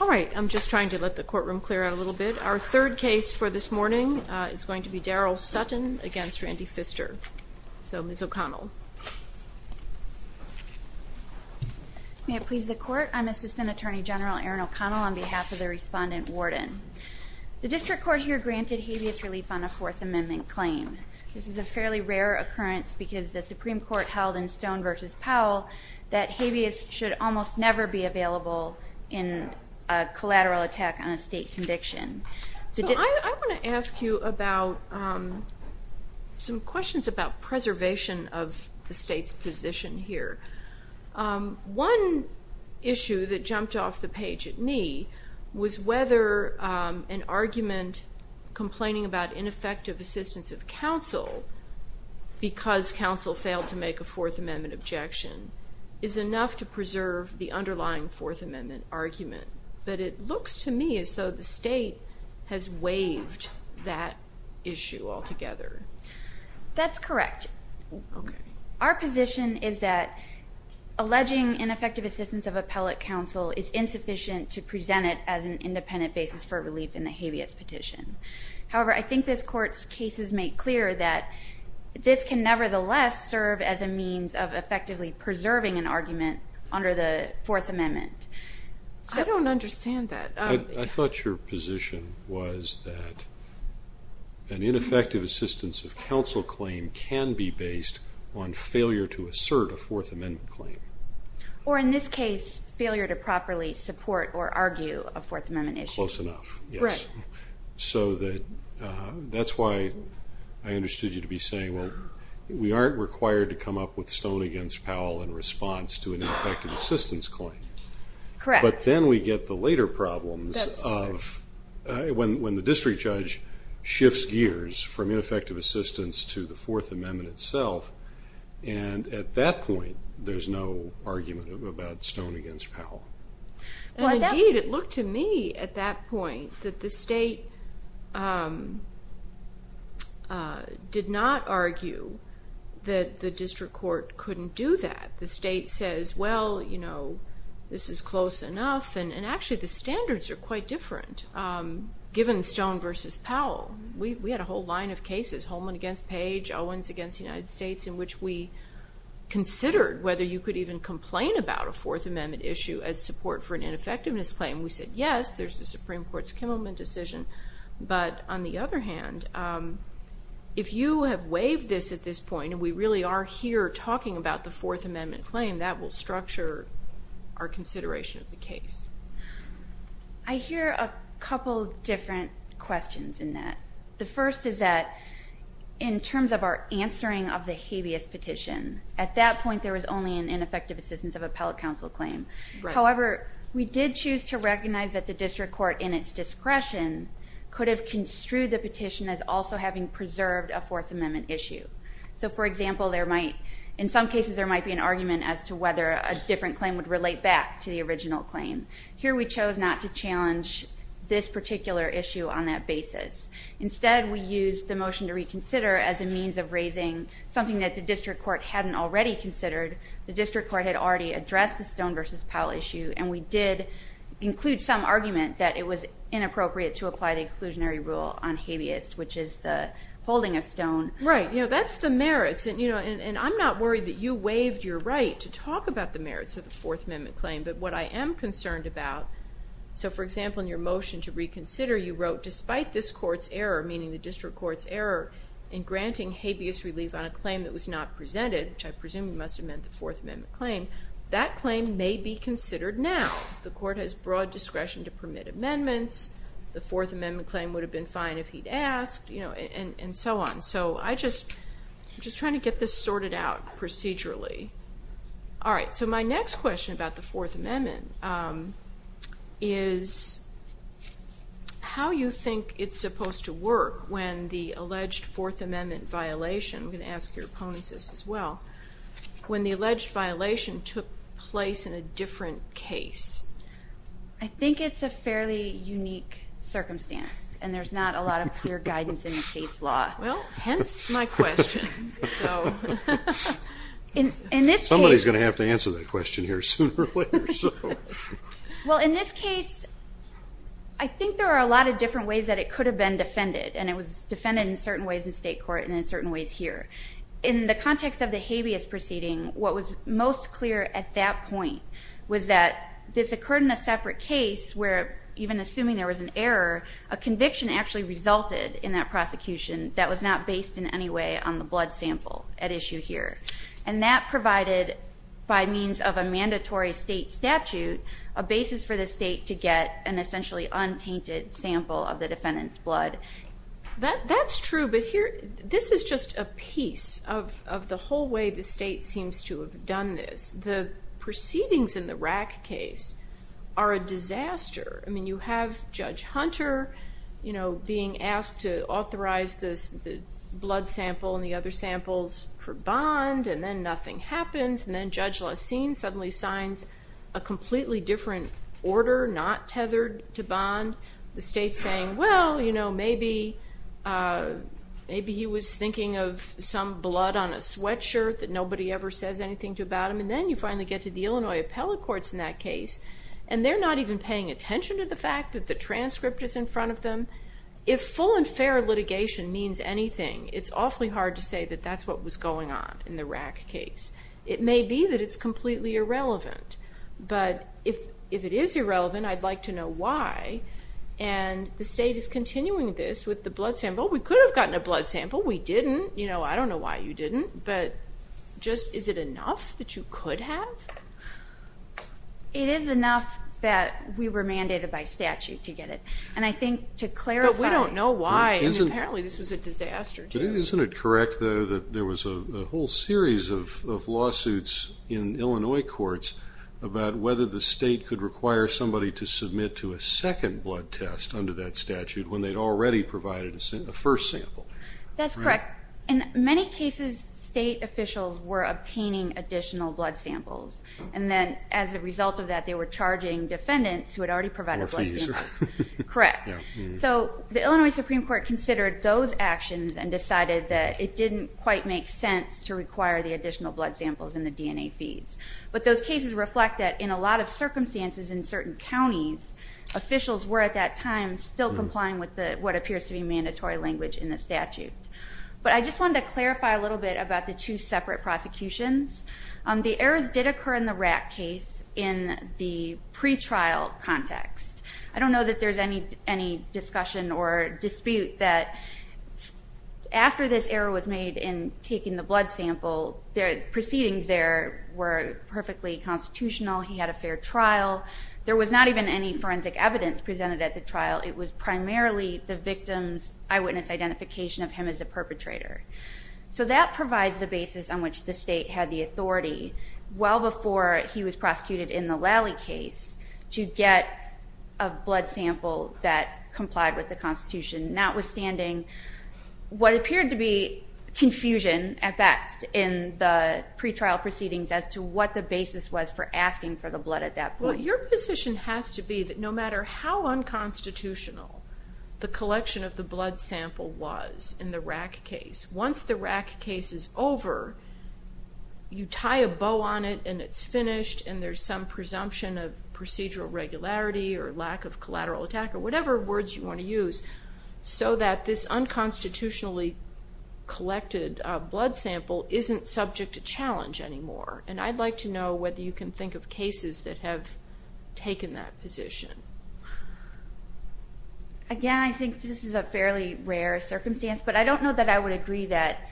All right. I'm just trying to let the courtroom clear out a little bit. Our third case for this morning is going to be Darryl Sutton v. Randy Pfister. So, Ms. O'Connell. May it please the Court. I'm Assistant Attorney General Erin O'Connell on behalf of the Respondent Warden. The District Court here granted habeas relief on a Fourth Amendment claim. This is a fairly rare occurrence because the Supreme Court held in Stone v. Powell that habeas should almost never be available in a collateral attack on a state conviction. So I want to ask you about some questions about preservation of the state's position here. One issue that jumped off the page at me was whether an argument complaining about ineffective assistance of counsel because counsel failed to make a Fourth Amendment objection is enough to preserve the underlying Fourth Amendment argument. But it looks to me as though the state has waived that issue altogether. That's correct. Our position is that alleging ineffective assistance of appellate counsel is insufficient to present it as an independent basis for relief in the habeas petition. However, I think this Court's cases make clear that this can nevertheless serve as a means of effectively preserving an argument under the Fourth Amendment. I don't understand that. I thought your position was that an ineffective assistance of counsel claim can be based on failure to assert a Fourth Amendment claim. Or in this case, failure to properly support or argue a Fourth Amendment issue. That's close enough, yes. So that's why I understood you to be saying, well, we aren't required to come up with Stone v. Powell in response to an ineffective assistance claim. Correct. But then we get the later problems of when the district judge shifts gears from ineffective assistance to the Fourth Amendment itself, Indeed, it looked to me at that point that the state did not argue that the district court couldn't do that. The state says, well, you know, this is close enough. And actually, the standards are quite different. Given Stone v. Powell, we had a whole line of cases, Holman v. Page, Owens v. United States, in which we considered whether you could even complain about a Fourth Amendment issue as support for an ineffectiveness claim. We said, yes, there's the Supreme Court's Kimmelman decision. But on the other hand, if you have waived this at this point, and we really are here talking about the Fourth Amendment claim, that will structure our consideration of the case. I hear a couple different questions in that. The first is that in terms of our answering of the habeas petition, at that point there was only an ineffective assistance of appellate counsel claim. However, we did choose to recognize that the district court, in its discretion, could have construed the petition as also having preserved a Fourth Amendment issue. So, for example, in some cases there might be an argument as to whether a different claim would relate back to the original claim. Here we chose not to challenge this particular issue on that basis. Instead, we used the motion to reconsider as a means of raising something that the district court hadn't already considered. The district court had already addressed the Stone v. Powell issue, and we did include some argument that it was inappropriate to apply the inclusionary rule on habeas, which is the holding of Stone. Right. That's the merits. And I'm not worried that you waived your right to talk about the merits of the Fourth Amendment claim. But what I am concerned about, so, for example, in your motion to reconsider, you wrote, despite this court's error, meaning the district court's error, in granting habeas relief on a claim that was not presented, which I presume must have meant the Fourth Amendment claim, that claim may be considered now. The court has broad discretion to permit amendments. The Fourth Amendment claim would have been fine if he'd asked, and so on. So I'm just trying to get this sorted out procedurally. All right. So my next question about the Fourth Amendment is how you think it's supposed to work when the alleged Fourth Amendment violation, I'm going to ask your opponents this as well, when the alleged violation took place in a different case. I think it's a fairly unique circumstance, and there's not a lot of clear guidance in the case law. Well, hence my question. Somebody's going to have to answer that question here sooner or later. Well, in this case, I think there are a lot of different ways that it could have been defended, and it was defended in certain ways in state court and in certain ways here. In the context of the habeas proceeding, what was most clear at that point was that this occurred in a separate case where even assuming there was an error, a conviction actually resulted in that prosecution that was not based in any way on the blood sample at issue here. And that provided, by means of a mandatory state statute, a basis for the state to get an essentially untainted sample of the defendant's blood. That's true, but this is just a piece of the whole way the state seems to have done this. The proceedings in the Rack case are a disaster. I mean, you have Judge Hunter being asked to authorize the blood sample and the other samples for bond, and then nothing happens, and then Judge Lessene suddenly signs a completely different order not tethered to bond. The state's saying, well, you know, maybe he was thinking of some blood on a sweatshirt that nobody ever says anything to about him. And then you finally get to the Illinois appellate courts in that case, and they're not even paying attention to the fact that the transcript is in front of them. If full and fair litigation means anything, it's awfully hard to say that that's what was going on in the Rack case. It may be that it's completely irrelevant, but if it is irrelevant, I'd like to know why. And the state is continuing this with the blood sample. We could have gotten a blood sample. We didn't. You know, I don't know why you didn't, but just is it enough that you could have? It is enough that we were mandated by statute to get it, and I think to clarify. But we don't know why, and apparently this was a disaster, too. Isn't it correct, though, that there was a whole series of lawsuits in Illinois courts about whether the state could require somebody to submit to a second blood test under that statute when they'd already provided a first sample? That's correct. In many cases, state officials were obtaining additional blood samples, and then as a result of that they were charging defendants who had already provided blood samples. Or fees. Correct. So the Illinois Supreme Court considered those actions and decided that it didn't quite make sense to require the additional blood samples and the DNA fees. But those cases reflect that in a lot of circumstances in certain counties, officials were at that time still complying with what appears to be mandatory language in the statute. But I just wanted to clarify a little bit about the two separate prosecutions. The errors did occur in the Rack case in the pretrial context. I don't know that there's any discussion or dispute that after this error was made in taking the blood sample, the proceedings there were perfectly constitutional. He had a fair trial. There was not even any forensic evidence presented at the trial. It was primarily the victim's eyewitness identification of him as a perpetrator. So that provides the basis on which the state had the authority, well before he was prosecuted in the Lally case, to get a blood sample that complied with the Constitution, notwithstanding what appeared to be confusion at best in the pretrial proceedings as to what the basis was for asking for the blood at that point. Your position has to be that no matter how unconstitutional the collection of the blood sample was in the Rack case, once the Rack case is over, you tie a bow on it and it's finished and there's some presumption of procedural regularity or lack of collateral attack or whatever words you want to use, so that this unconstitutionally collected blood sample isn't subject to challenge anymore. And I'd like to know whether you can think of cases that have taken that position. Again, I think this is a fairly rare circumstance, but I don't know that I would agree that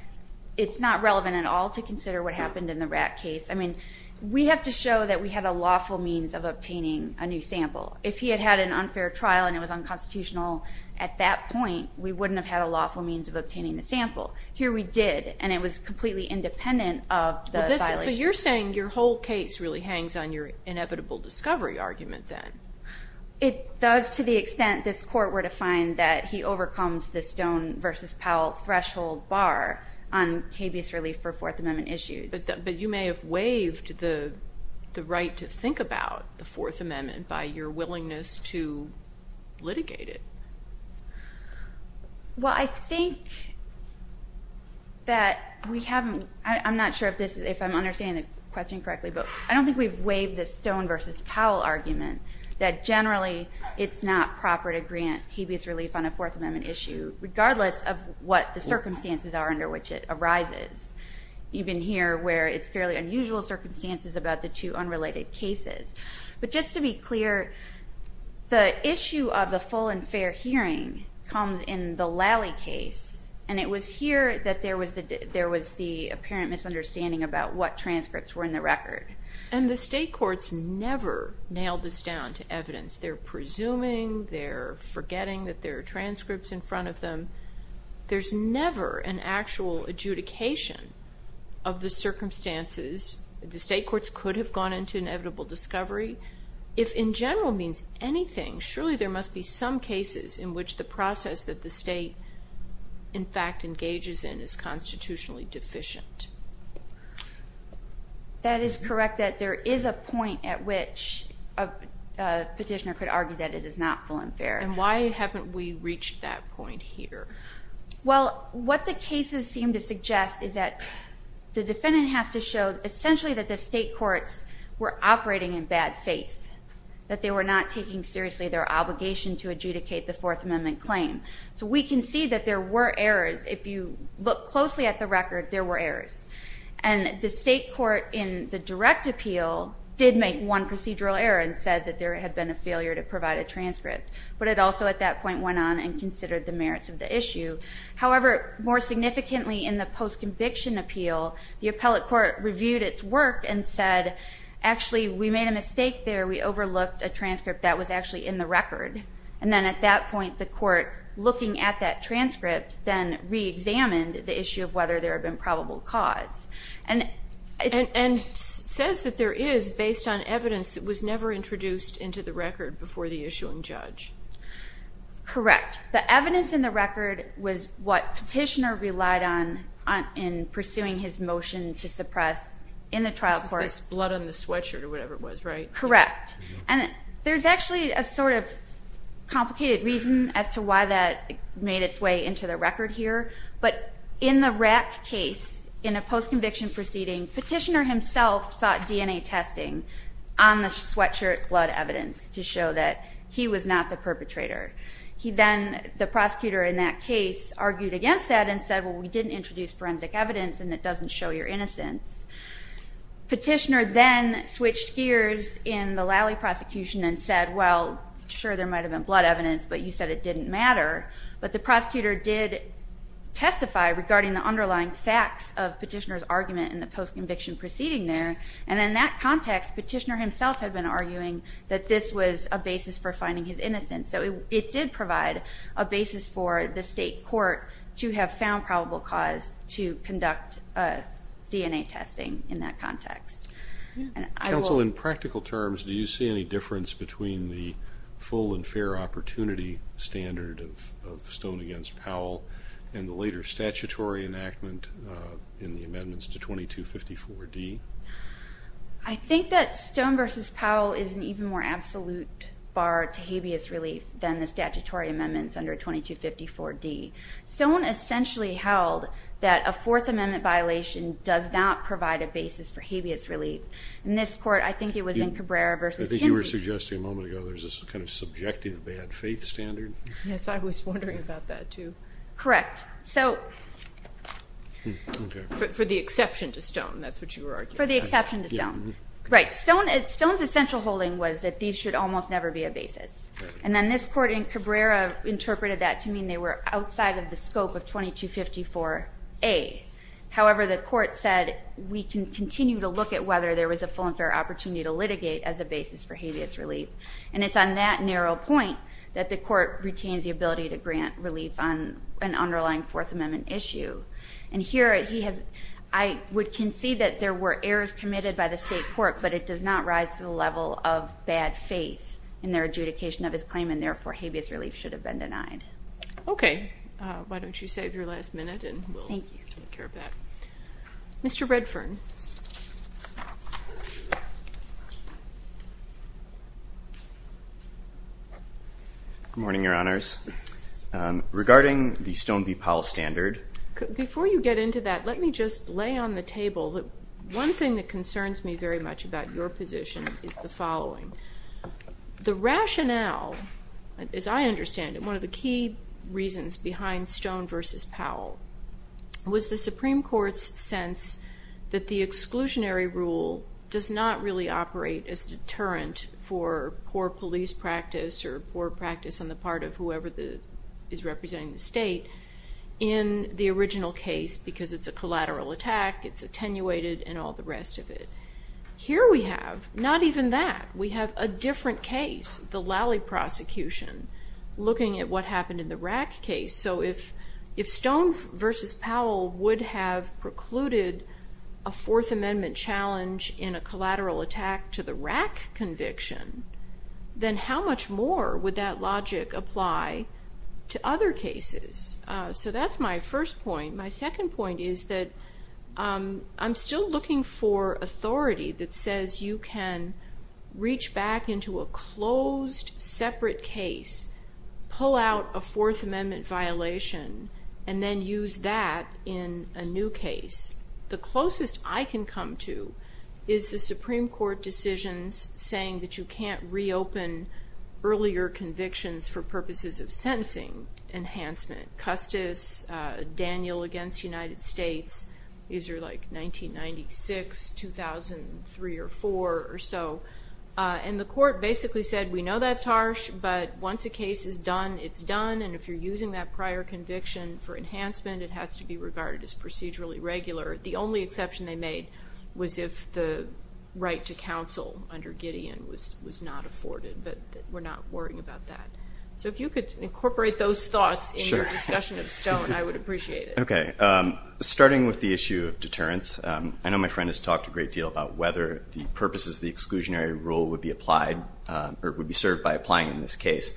it's not relevant at all to consider what happened in the Rack case. I mean, we have to show that we had a lawful means of obtaining a new sample. If he had had an unfair trial and it was unconstitutional at that point, we wouldn't have had a lawful means of obtaining the sample. Here we did, and it was completely independent of the violation. So you're saying your whole case really hangs on your inevitable discovery argument then? It does to the extent this Court were to find that he overcomes the Stone v. Powell threshold bar on habeas relief for Fourth Amendment issues. But you may have waived the right to think about the Fourth Amendment by your willingness to litigate it. Well, I think that we haven't. I'm not sure if I'm understanding the question correctly, but I don't think we've waived the Stone v. Powell argument that generally it's not proper to grant habeas relief on a Fourth Amendment issue, regardless of what the circumstances are under which it arises. You've been here where it's fairly unusual circumstances about the two unrelated cases. But just to be clear, the issue of the full and fair hearing comes in the Lally case, and it was here that there was the apparent misunderstanding about what transcripts were in the record. And the state courts never nailed this down to evidence. They're presuming, they're forgetting that there are transcripts in front of them. There's never an actual adjudication of the circumstances. The state courts could have gone into inevitable discovery. If in general means anything, surely there must be some cases in which the process that the state, in fact, engages in is constitutionally deficient. That is correct, that there is a point at which a petitioner could argue that it is not full and fair. And why haven't we reached that point here? Well, what the cases seem to suggest is that the defendant has to show essentially that the state courts were operating in bad faith, that they were not taking seriously their obligation to adjudicate the Fourth Amendment claim. So we can see that there were errors. If you look closely at the record, there were errors. And the state court in the direct appeal did make one procedural error and said that there had been a failure to provide a transcript. But it also at that point went on and considered the merits of the issue. However, more significantly in the post-conviction appeal, the appellate court reviewed its work and said, actually we made a mistake there, we overlooked a transcript that was actually in the record. And then at that point the court, looking at that transcript, then reexamined the issue of whether there had been probable cause. And says that there is, based on evidence, it was never introduced into the record before the issuing judge. Correct. The evidence in the record was what Petitioner relied on in pursuing his motion to suppress in the trial court. This blood on the sweatshirt or whatever it was, right? Correct. And there's actually a sort of complicated reason as to why that made its way into the record here. But in the Rack case, in a post-conviction proceeding, Petitioner himself sought DNA testing on the sweatshirt blood evidence to show that he was not the perpetrator. He then, the prosecutor in that case, argued against that and said, well we didn't introduce forensic evidence and it doesn't show your innocence. Petitioner then switched gears in the Lally prosecution and said, well sure there might have been blood evidence but you said it didn't matter. But the prosecutor did testify regarding the underlying facts of Petitioner's argument in the post-conviction proceeding there. And in that context, Petitioner himself had been arguing that this was a basis for finding his innocence. So it did provide a basis for the state court to have found probable cause to conduct DNA testing in that context. Counsel, in practical terms, do you see any difference between the full and fair opportunity standard of Stone v. Powell and the later statutory enactment in the amendments to 2254D? I think that Stone v. Powell is an even more absolute bar to habeas relief than the statutory amendments under 2254D. Stone essentially held that a Fourth Amendment violation does not provide a basis for habeas relief. In this court, I think it was in Cabrera v. Hinson. I think you were suggesting a moment ago there's this kind of subjective bad faith standard. Yes, I was wondering about that too. Correct. For the exception to Stone, that's what you were arguing. For the exception to Stone. Stone's essential holding was that these should almost never be a basis. And then this court in Cabrera interpreted that to mean they were outside of the scope of 2254A. However, the court said we can continue to look at whether there was a full and fair opportunity to litigate as a basis for habeas relief. And it's on that narrow point that the court retains the ability to grant relief on an underlying Fourth Amendment issue. And here, I would concede that there were errors committed by the state court, but it does not rise to the level of bad faith in their adjudication of his claim. And therefore, habeas relief should have been denied. Okay. Why don't you save your last minute and we'll take care of that. Thank you. Mr. Redfern. Good morning, Your Honors. Regarding the Stone v. Powell standard. Before you get into that, let me just lay on the table that one thing that concerns me very much about your position is the following. The rationale, as I understand it, one of the key reasons behind Stone v. Powell, was the Supreme Court's sense that the exclusionary rule does not really operate as deterrent for poor police practice or poor practice on the part of whoever is representing the state in the original case, because it's a collateral attack, it's attenuated, and all the rest of it. Here we have not even that. We have a different case, the Lally prosecution, looking at what happened in the Rack case. So if Stone v. Powell would have precluded a Fourth Amendment challenge in a collateral attack to the Rack conviction, then how much more would that logic apply to other cases? So that's my first point. My second point is that I'm still looking for authority that says you can reach back into a closed, separate case, pull out a Fourth Amendment violation, and then use that in a new case. The closest I can come to is the Supreme Court decisions saying that you can't reopen earlier convictions for purposes of sentencing enhancement. Custis, Daniel v. United States, these are like 1996, 2003 or 2004 or so. And the court basically said, we know that's harsh, but once a case is done, it's done, and if you're using that prior conviction for enhancement, it has to be regarded as procedurally regular. The only exception they made was if the right to counsel under Gideon was not afforded. But we're not worrying about that. So if you could incorporate those thoughts in your discussion of Stone, I would appreciate it. Okay. Starting with the issue of deterrence, I know my friend has talked a great deal about whether the purposes of the exclusionary rule would be applied or would be served by applying in this case.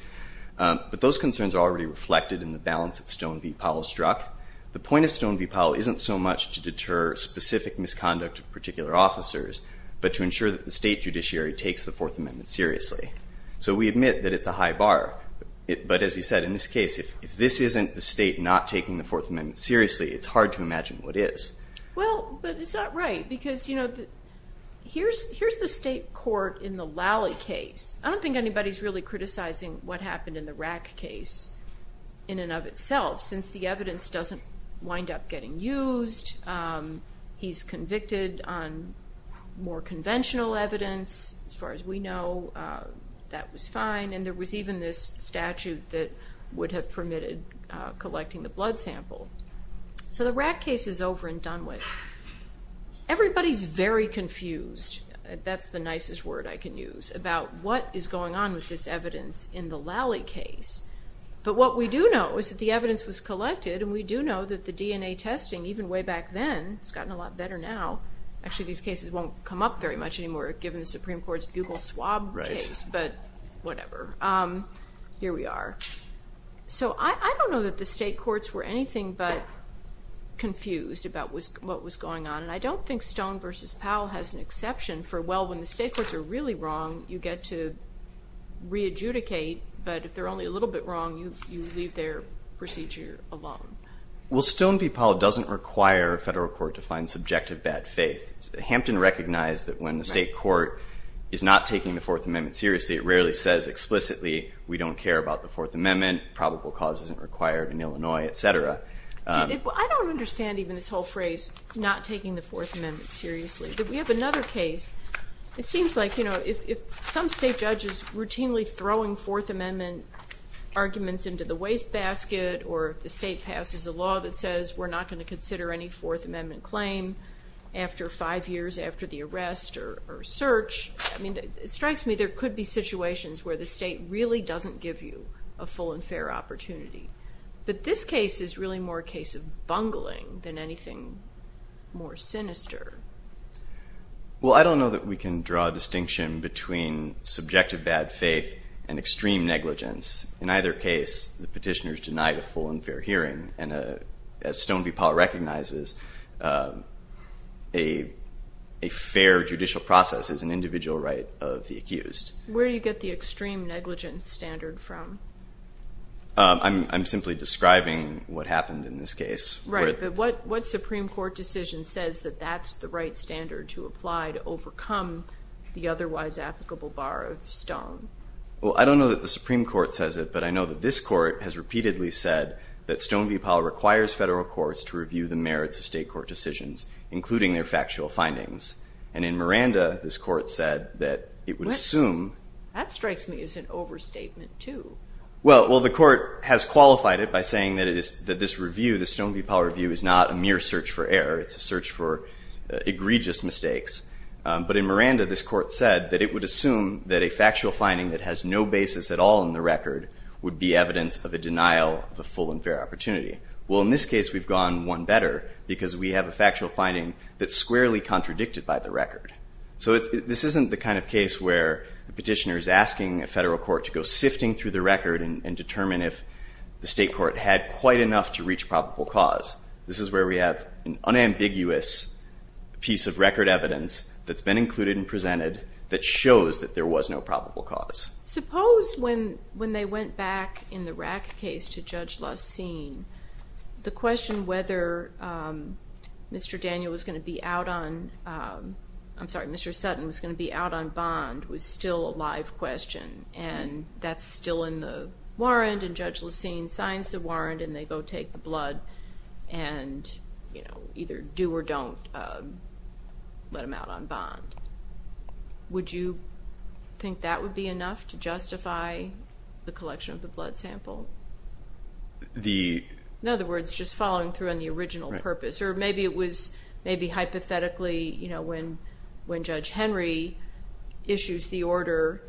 But those concerns are already reflected in the balance that Stone v. Powell struck. The point of Stone v. Powell isn't so much to deter specific misconduct of particular officers, but to ensure that the state judiciary takes the Fourth Amendment seriously. So we admit that it's a high bar. But as you said, in this case, if this isn't the state not taking the Fourth Amendment seriously, it's hard to imagine what is. Well, but it's not right because, you know, here's the state court in the Lally case. I don't think anybody's really criticizing what happened in the Rack case in and of itself, since the evidence doesn't wind up getting used. He's convicted on more conventional evidence. As far as we know, that was fine. And there was even this statute that would have permitted collecting the blood sample. So the Rack case is over and done with. Everybody's very confused. That's the nicest word I can use, about what is going on with this evidence in the Lally case. But what we do know is that the evidence was collected, and we do know that the DNA testing, even way back then, it's gotten a lot better now. Actually, these cases won't come up very much anymore, given the Supreme Court's bugle swab case. But whatever. Here we are. So I don't know that the state courts were anything but confused about what was going on. And I don't think Stone v. Powell has an exception for, well, when the state courts are really wrong, you get to re-adjudicate, but if they're only a little bit wrong, you leave their procedure alone. Well, Stone v. Powell doesn't require a federal court to find subjective bad faith. Hampton recognized that when the state court is not taking the Fourth Amendment seriously, it rarely says explicitly, we don't care about the Fourth Amendment, probable cause isn't required in Illinois, et cetera. I don't understand even this whole phrase, not taking the Fourth Amendment seriously. We have another case. It seems like if some state judge is routinely throwing Fourth Amendment arguments into the wastebasket or the state passes a law that says we're not going to consider any Fourth Amendment claim after five years after the arrest or search, it strikes me there could be situations where the state really doesn't give you a full and fair opportunity. But this case is really more a case of bungling than anything more sinister. Well, I don't know that we can draw a distinction between subjective bad faith and extreme negligence. In either case, the petitioners denied a full and fair hearing, and as Stone v. Powell recognizes, a fair judicial process is an individual right of the accused. Where do you get the extreme negligence standard from? I'm simply describing what happened in this case. Right. But what Supreme Court decision says that that's the right standard to apply to overcome the otherwise applicable bar of Stone? Well, I don't know that the Supreme Court says it, but I know that this court has repeatedly said that Stone v. Powell requires federal courts to review the merits of state court decisions, including their factual findings. And in Miranda, this court said that it would assume- Well, the court has qualified it by saying that this review, the Stone v. Powell review, is not a mere search for error. It's a search for egregious mistakes. But in Miranda, this court said that it would assume that a factual finding that has no basis at all in the record would be evidence of a denial of a full and fair opportunity. Well, in this case, we've gone one better because we have a factual finding that's squarely contradicted by the record. So this isn't the kind of case where the petitioner is asking a federal court to go sifting through the record and determine if the state court had quite enough to reach probable cause. This is where we have an unambiguous piece of record evidence that's been included and presented that shows that there was no probable cause. Suppose when they went back in the Rack case to Judge Lussine, the question whether Mr. Daniel was going to be out on-I'm sorry, Mr. Sutton was going to be out on bond was still a live question. And that's still in the warrant, and Judge Lussine signs the warrant, and they go take the blood and either do or don't let him out on bond. Would you think that would be enough to justify the collection of the blood sample? In other words, just following through on the original purpose. Or maybe it was maybe hypothetically when Judge Henry issues the order,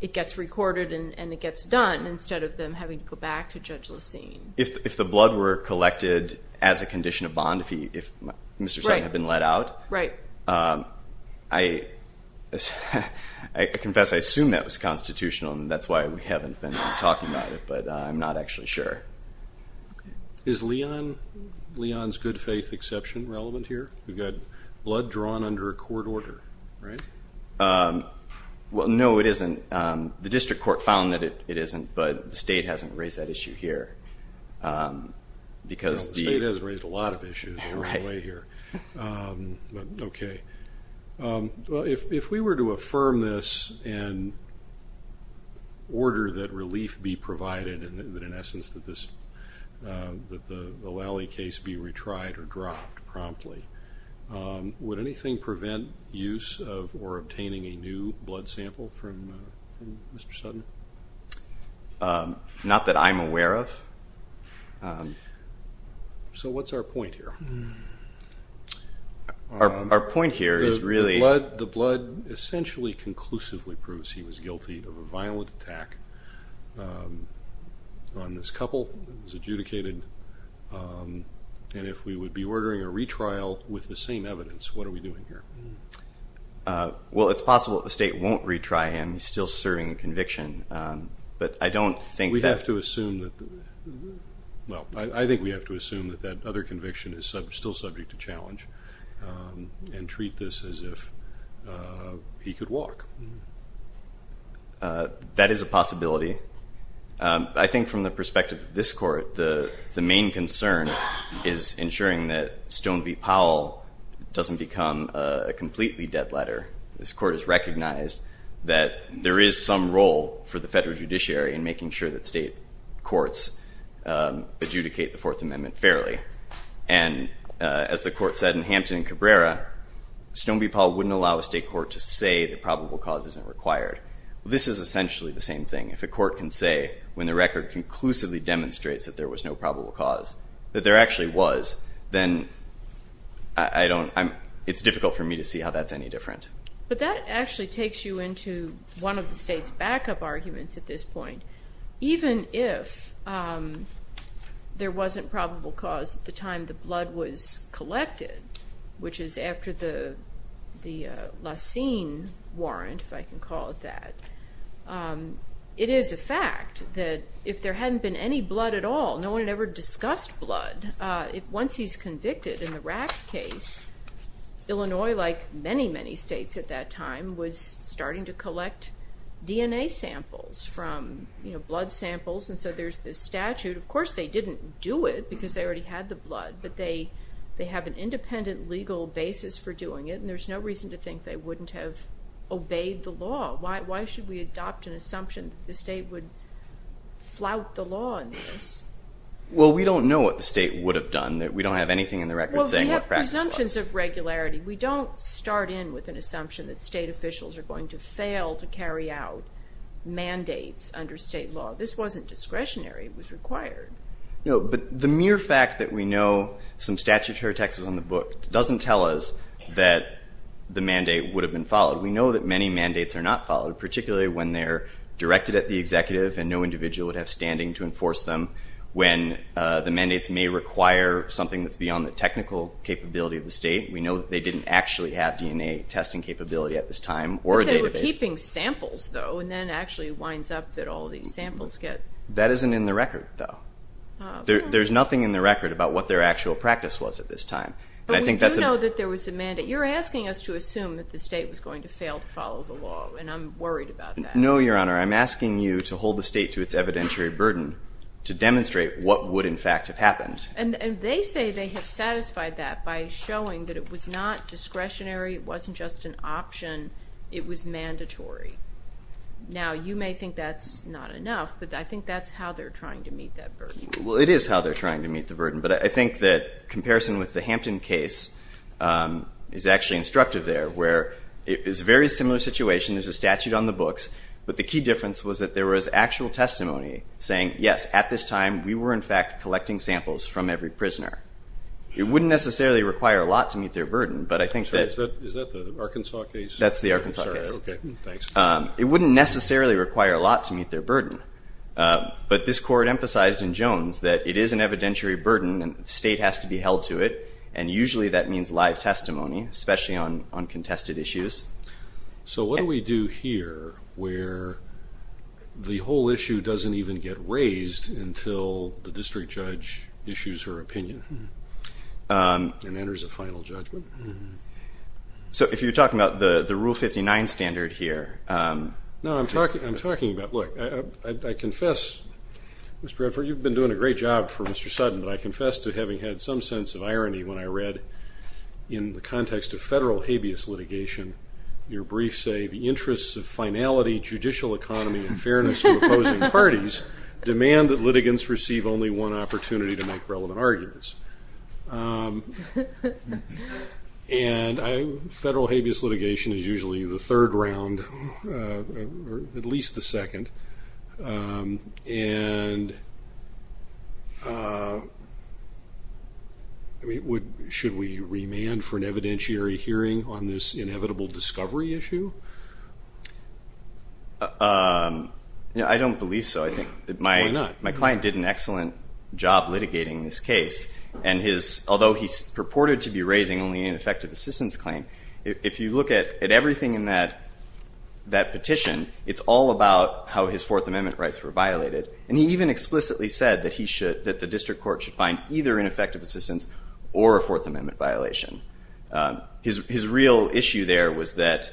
it gets recorded and it gets done instead of them having to go back to Judge Lussine. If the blood were collected as a condition of bond, if Mr. Sutton had been let out, I confess I assumed that was constitutional, and that's why we haven't been talking about it, but I'm not actually sure. Is Leon's good faith exception relevant here? We've got blood drawn under a court order, right? No, it isn't. The district court found that it isn't, but the state hasn't raised that issue here. The state has raised a lot of issues along the way here. If we were to affirm this and order that relief be provided, that in essence that the Lally case be retried or dropped promptly, would anything prevent use of or obtaining a new blood sample from Mr. Sutton? Not that I'm aware of. So what's our point here? Our point here is really the blood essentially conclusively proves he was guilty of a violent attack. On this couple, it was adjudicated. And if we would be ordering a retrial with the same evidence, what are we doing here? Well, it's possible that the state won't retry him. He's still serving a conviction. But I don't think that we have to assume that the other conviction is still subject to challenge and treat this as if he could walk. That is a possibility. I think from the perspective of this court, the main concern is ensuring that Stone v. Powell doesn't become a completely dead letter. This court has recognized that there is some role for the federal judiciary in making sure that state courts adjudicate the Fourth Amendment fairly. And as the court said in Hampton and Cabrera, Stone v. Powell wouldn't allow a state court to say that probable cause isn't required. This is essentially the same thing. If a court can say when the record conclusively demonstrates that there was no probable cause, that there actually was, then it's difficult for me to see how that's any different. But that actually takes you into one of the state's backup arguments at this point. Even if there wasn't probable cause at the time the blood was collected, which is after the Lausanne Warrant, if I can call it that, it is a fact that if there hadn't been any blood at all, no one had ever discussed blood, once he's convicted in the Rack case, Illinois, like many, many states at that time, was starting to collect DNA samples from blood samples. And so there's this statute. But they have an independent legal basis for doing it, and there's no reason to think they wouldn't have obeyed the law. Why should we adopt an assumption that the state would flout the law in this? Well, we don't know what the state would have done. We don't have anything in the record saying what practice was. Well, we have presumptions of regularity. We don't start in with an assumption that state officials are going to fail to carry out mandates under state law. This wasn't discretionary. It was required. No, but the mere fact that we know some statutory text was on the book doesn't tell us that the mandate would have been followed. We know that many mandates are not followed, particularly when they're directed at the executive and no individual would have standing to enforce them, when the mandates may require something that's beyond the technical capability of the state. We know that they didn't actually have DNA testing capability at this time, or a database. But they were keeping samples, though, and then it actually winds up that all these samples get— That isn't in the record, though. There's nothing in the record about what their actual practice was at this time. But we do know that there was a mandate. You're asking us to assume that the state was going to fail to follow the law, and I'm worried about that. No, Your Honor. I'm asking you to hold the state to its evidentiary burden to demonstrate what would in fact have happened. And they say they have satisfied that by showing that it was not discretionary, it wasn't just an option, it was mandatory. Now, you may think that's not enough, but I think that's how they're trying to meet that burden. Well, it is how they're trying to meet the burden, but I think that comparison with the Hampton case is actually instructive there, where it is a very similar situation. There's a statute on the books, but the key difference was that there was actual testimony saying, yes, at this time we were in fact collecting samples from every prisoner. It wouldn't necessarily require a lot to meet their burden, but I think that— Is that the Arkansas case? That's the Arkansas case. Okay. Thanks. It wouldn't necessarily require a lot to meet their burden, but this Court emphasized in Jones that it is an evidentiary burden and the state has to be held to it, and usually that means live testimony, especially on contested issues. So what do we do here where the whole issue doesn't even get raised until the district judge issues her opinion and enters a final judgment? So if you're talking about the Rule 59 standard here— No, I'm talking about, look, I confess, Mr. Redford, you've been doing a great job for Mr. Sutton, but I confess to having had some sense of irony when I read in the context of federal habeas litigation, your briefs say the interests of finality, judicial economy, and fairness to opposing parties demand that litigants receive only one opportunity to make relevant arguments. And federal habeas litigation is usually the third round or at least the second, and should we remand for an evidentiary hearing on this inevitable discovery issue? I don't believe so. Why not? My client did an excellent job litigating this case, and although he purported to be raising only an ineffective assistance claim, if you look at everything in that petition, it's all about how his Fourth Amendment rights were violated. And he even explicitly said that the district court should find either ineffective assistance or a Fourth Amendment violation. His real issue there was that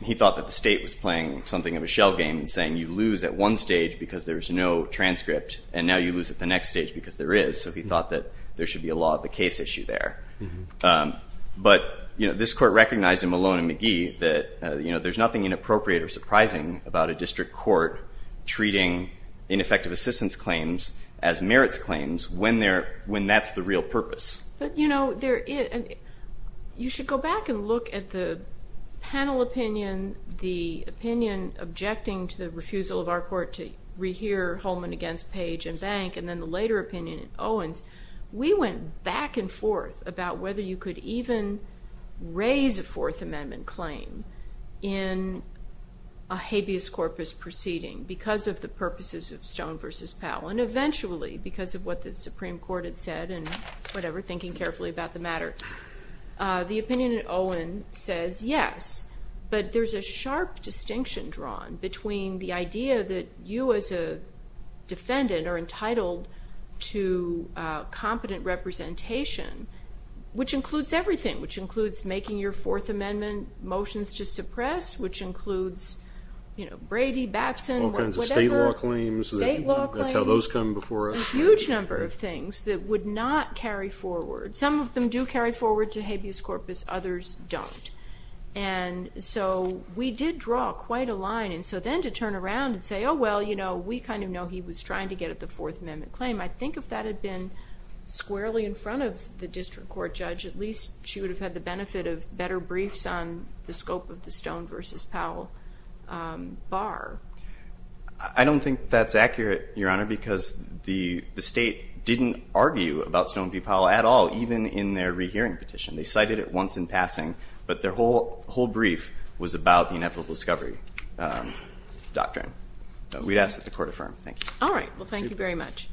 he thought that the state was playing something of a shell game and saying you lose at one stage because there's no transcript, and now you lose at the next stage because there is. So he thought that there should be a law of the case issue there. But, you know, this court recognized in Malone and McGee that, you know, there's nothing inappropriate or surprising about a district court treating ineffective assistance claims as merits claims when that's the real purpose. But, you know, you should go back and look at the panel opinion, the opinion objecting to the refusal of our court to rehear Holman against Page and Bank, and then the later opinion in Owens. We went back and forth about whether you could even raise a Fourth Amendment claim in a habeas corpus proceeding because of the purposes of Stone v. Powell, and eventually because of what the Supreme Court had said and whatever, thinking carefully about the matter. The opinion in Owens says yes, but there's a sharp distinction drawn between the idea that you as a defendant are entitled to competent representation, which includes everything, which includes making your Fourth Amendment motions to suppress, which includes, you know, Brady, Batson, whatever. All kinds of state law claims. State law claims. That's how those come before us. A huge number of things that would not carry forward. Some of them do carry forward to habeas corpus. Others don't. And so we did draw quite a line. And so then to turn around and say, oh, well, you know, we kind of know he was trying to get at the Fourth Amendment claim, I think if that had been squarely in front of the district court judge, at least she would have had the benefit of better briefs on the scope of the Stone v. Powell bar. I don't think that's accurate, Your Honor, because the state didn't argue about Stone v. Powell at all. Not even in their rehearing petition. They cited it once in passing, but their whole brief was about the inevitable discovery doctrine. We'd ask that the court affirm. Thank you. All right. Well, thank you very much.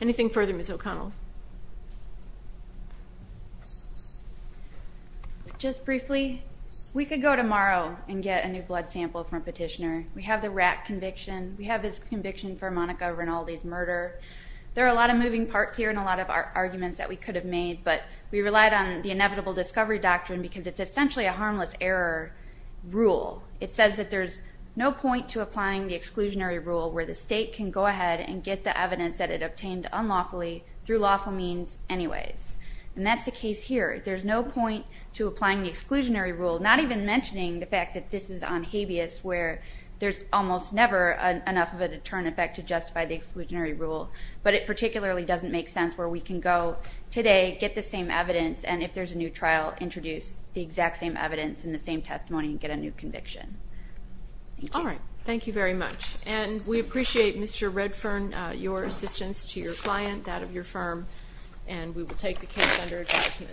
Anything further, Ms. O'Connell? Just briefly, we could go tomorrow and get a new blood sample from a petitioner. We have the Ratt conviction. We have his conviction for Monica Rinaldi's murder. There are a lot of moving parts here and a lot of arguments that we could have made, but we relied on the inevitable discovery doctrine because it's essentially a harmless error rule. It says that there's no point to applying the exclusionary rule where the state can go ahead and get the evidence that it obtained unlawfully through lawful means anyways. And that's the case here. There's no point to applying the exclusionary rule, not even mentioning the fact that this is on habeas, where there's almost never enough of a deterrent effect to justify the exclusionary rule. But it particularly doesn't make sense where we can go today, get the same evidence, and if there's a new trial, introduce the exact same evidence and the same testimony and get a new conviction. All right. Thank you very much. And we appreciate, Mr. Redfern, your assistance to your client, that of your firm, and we will take the case under adjustment.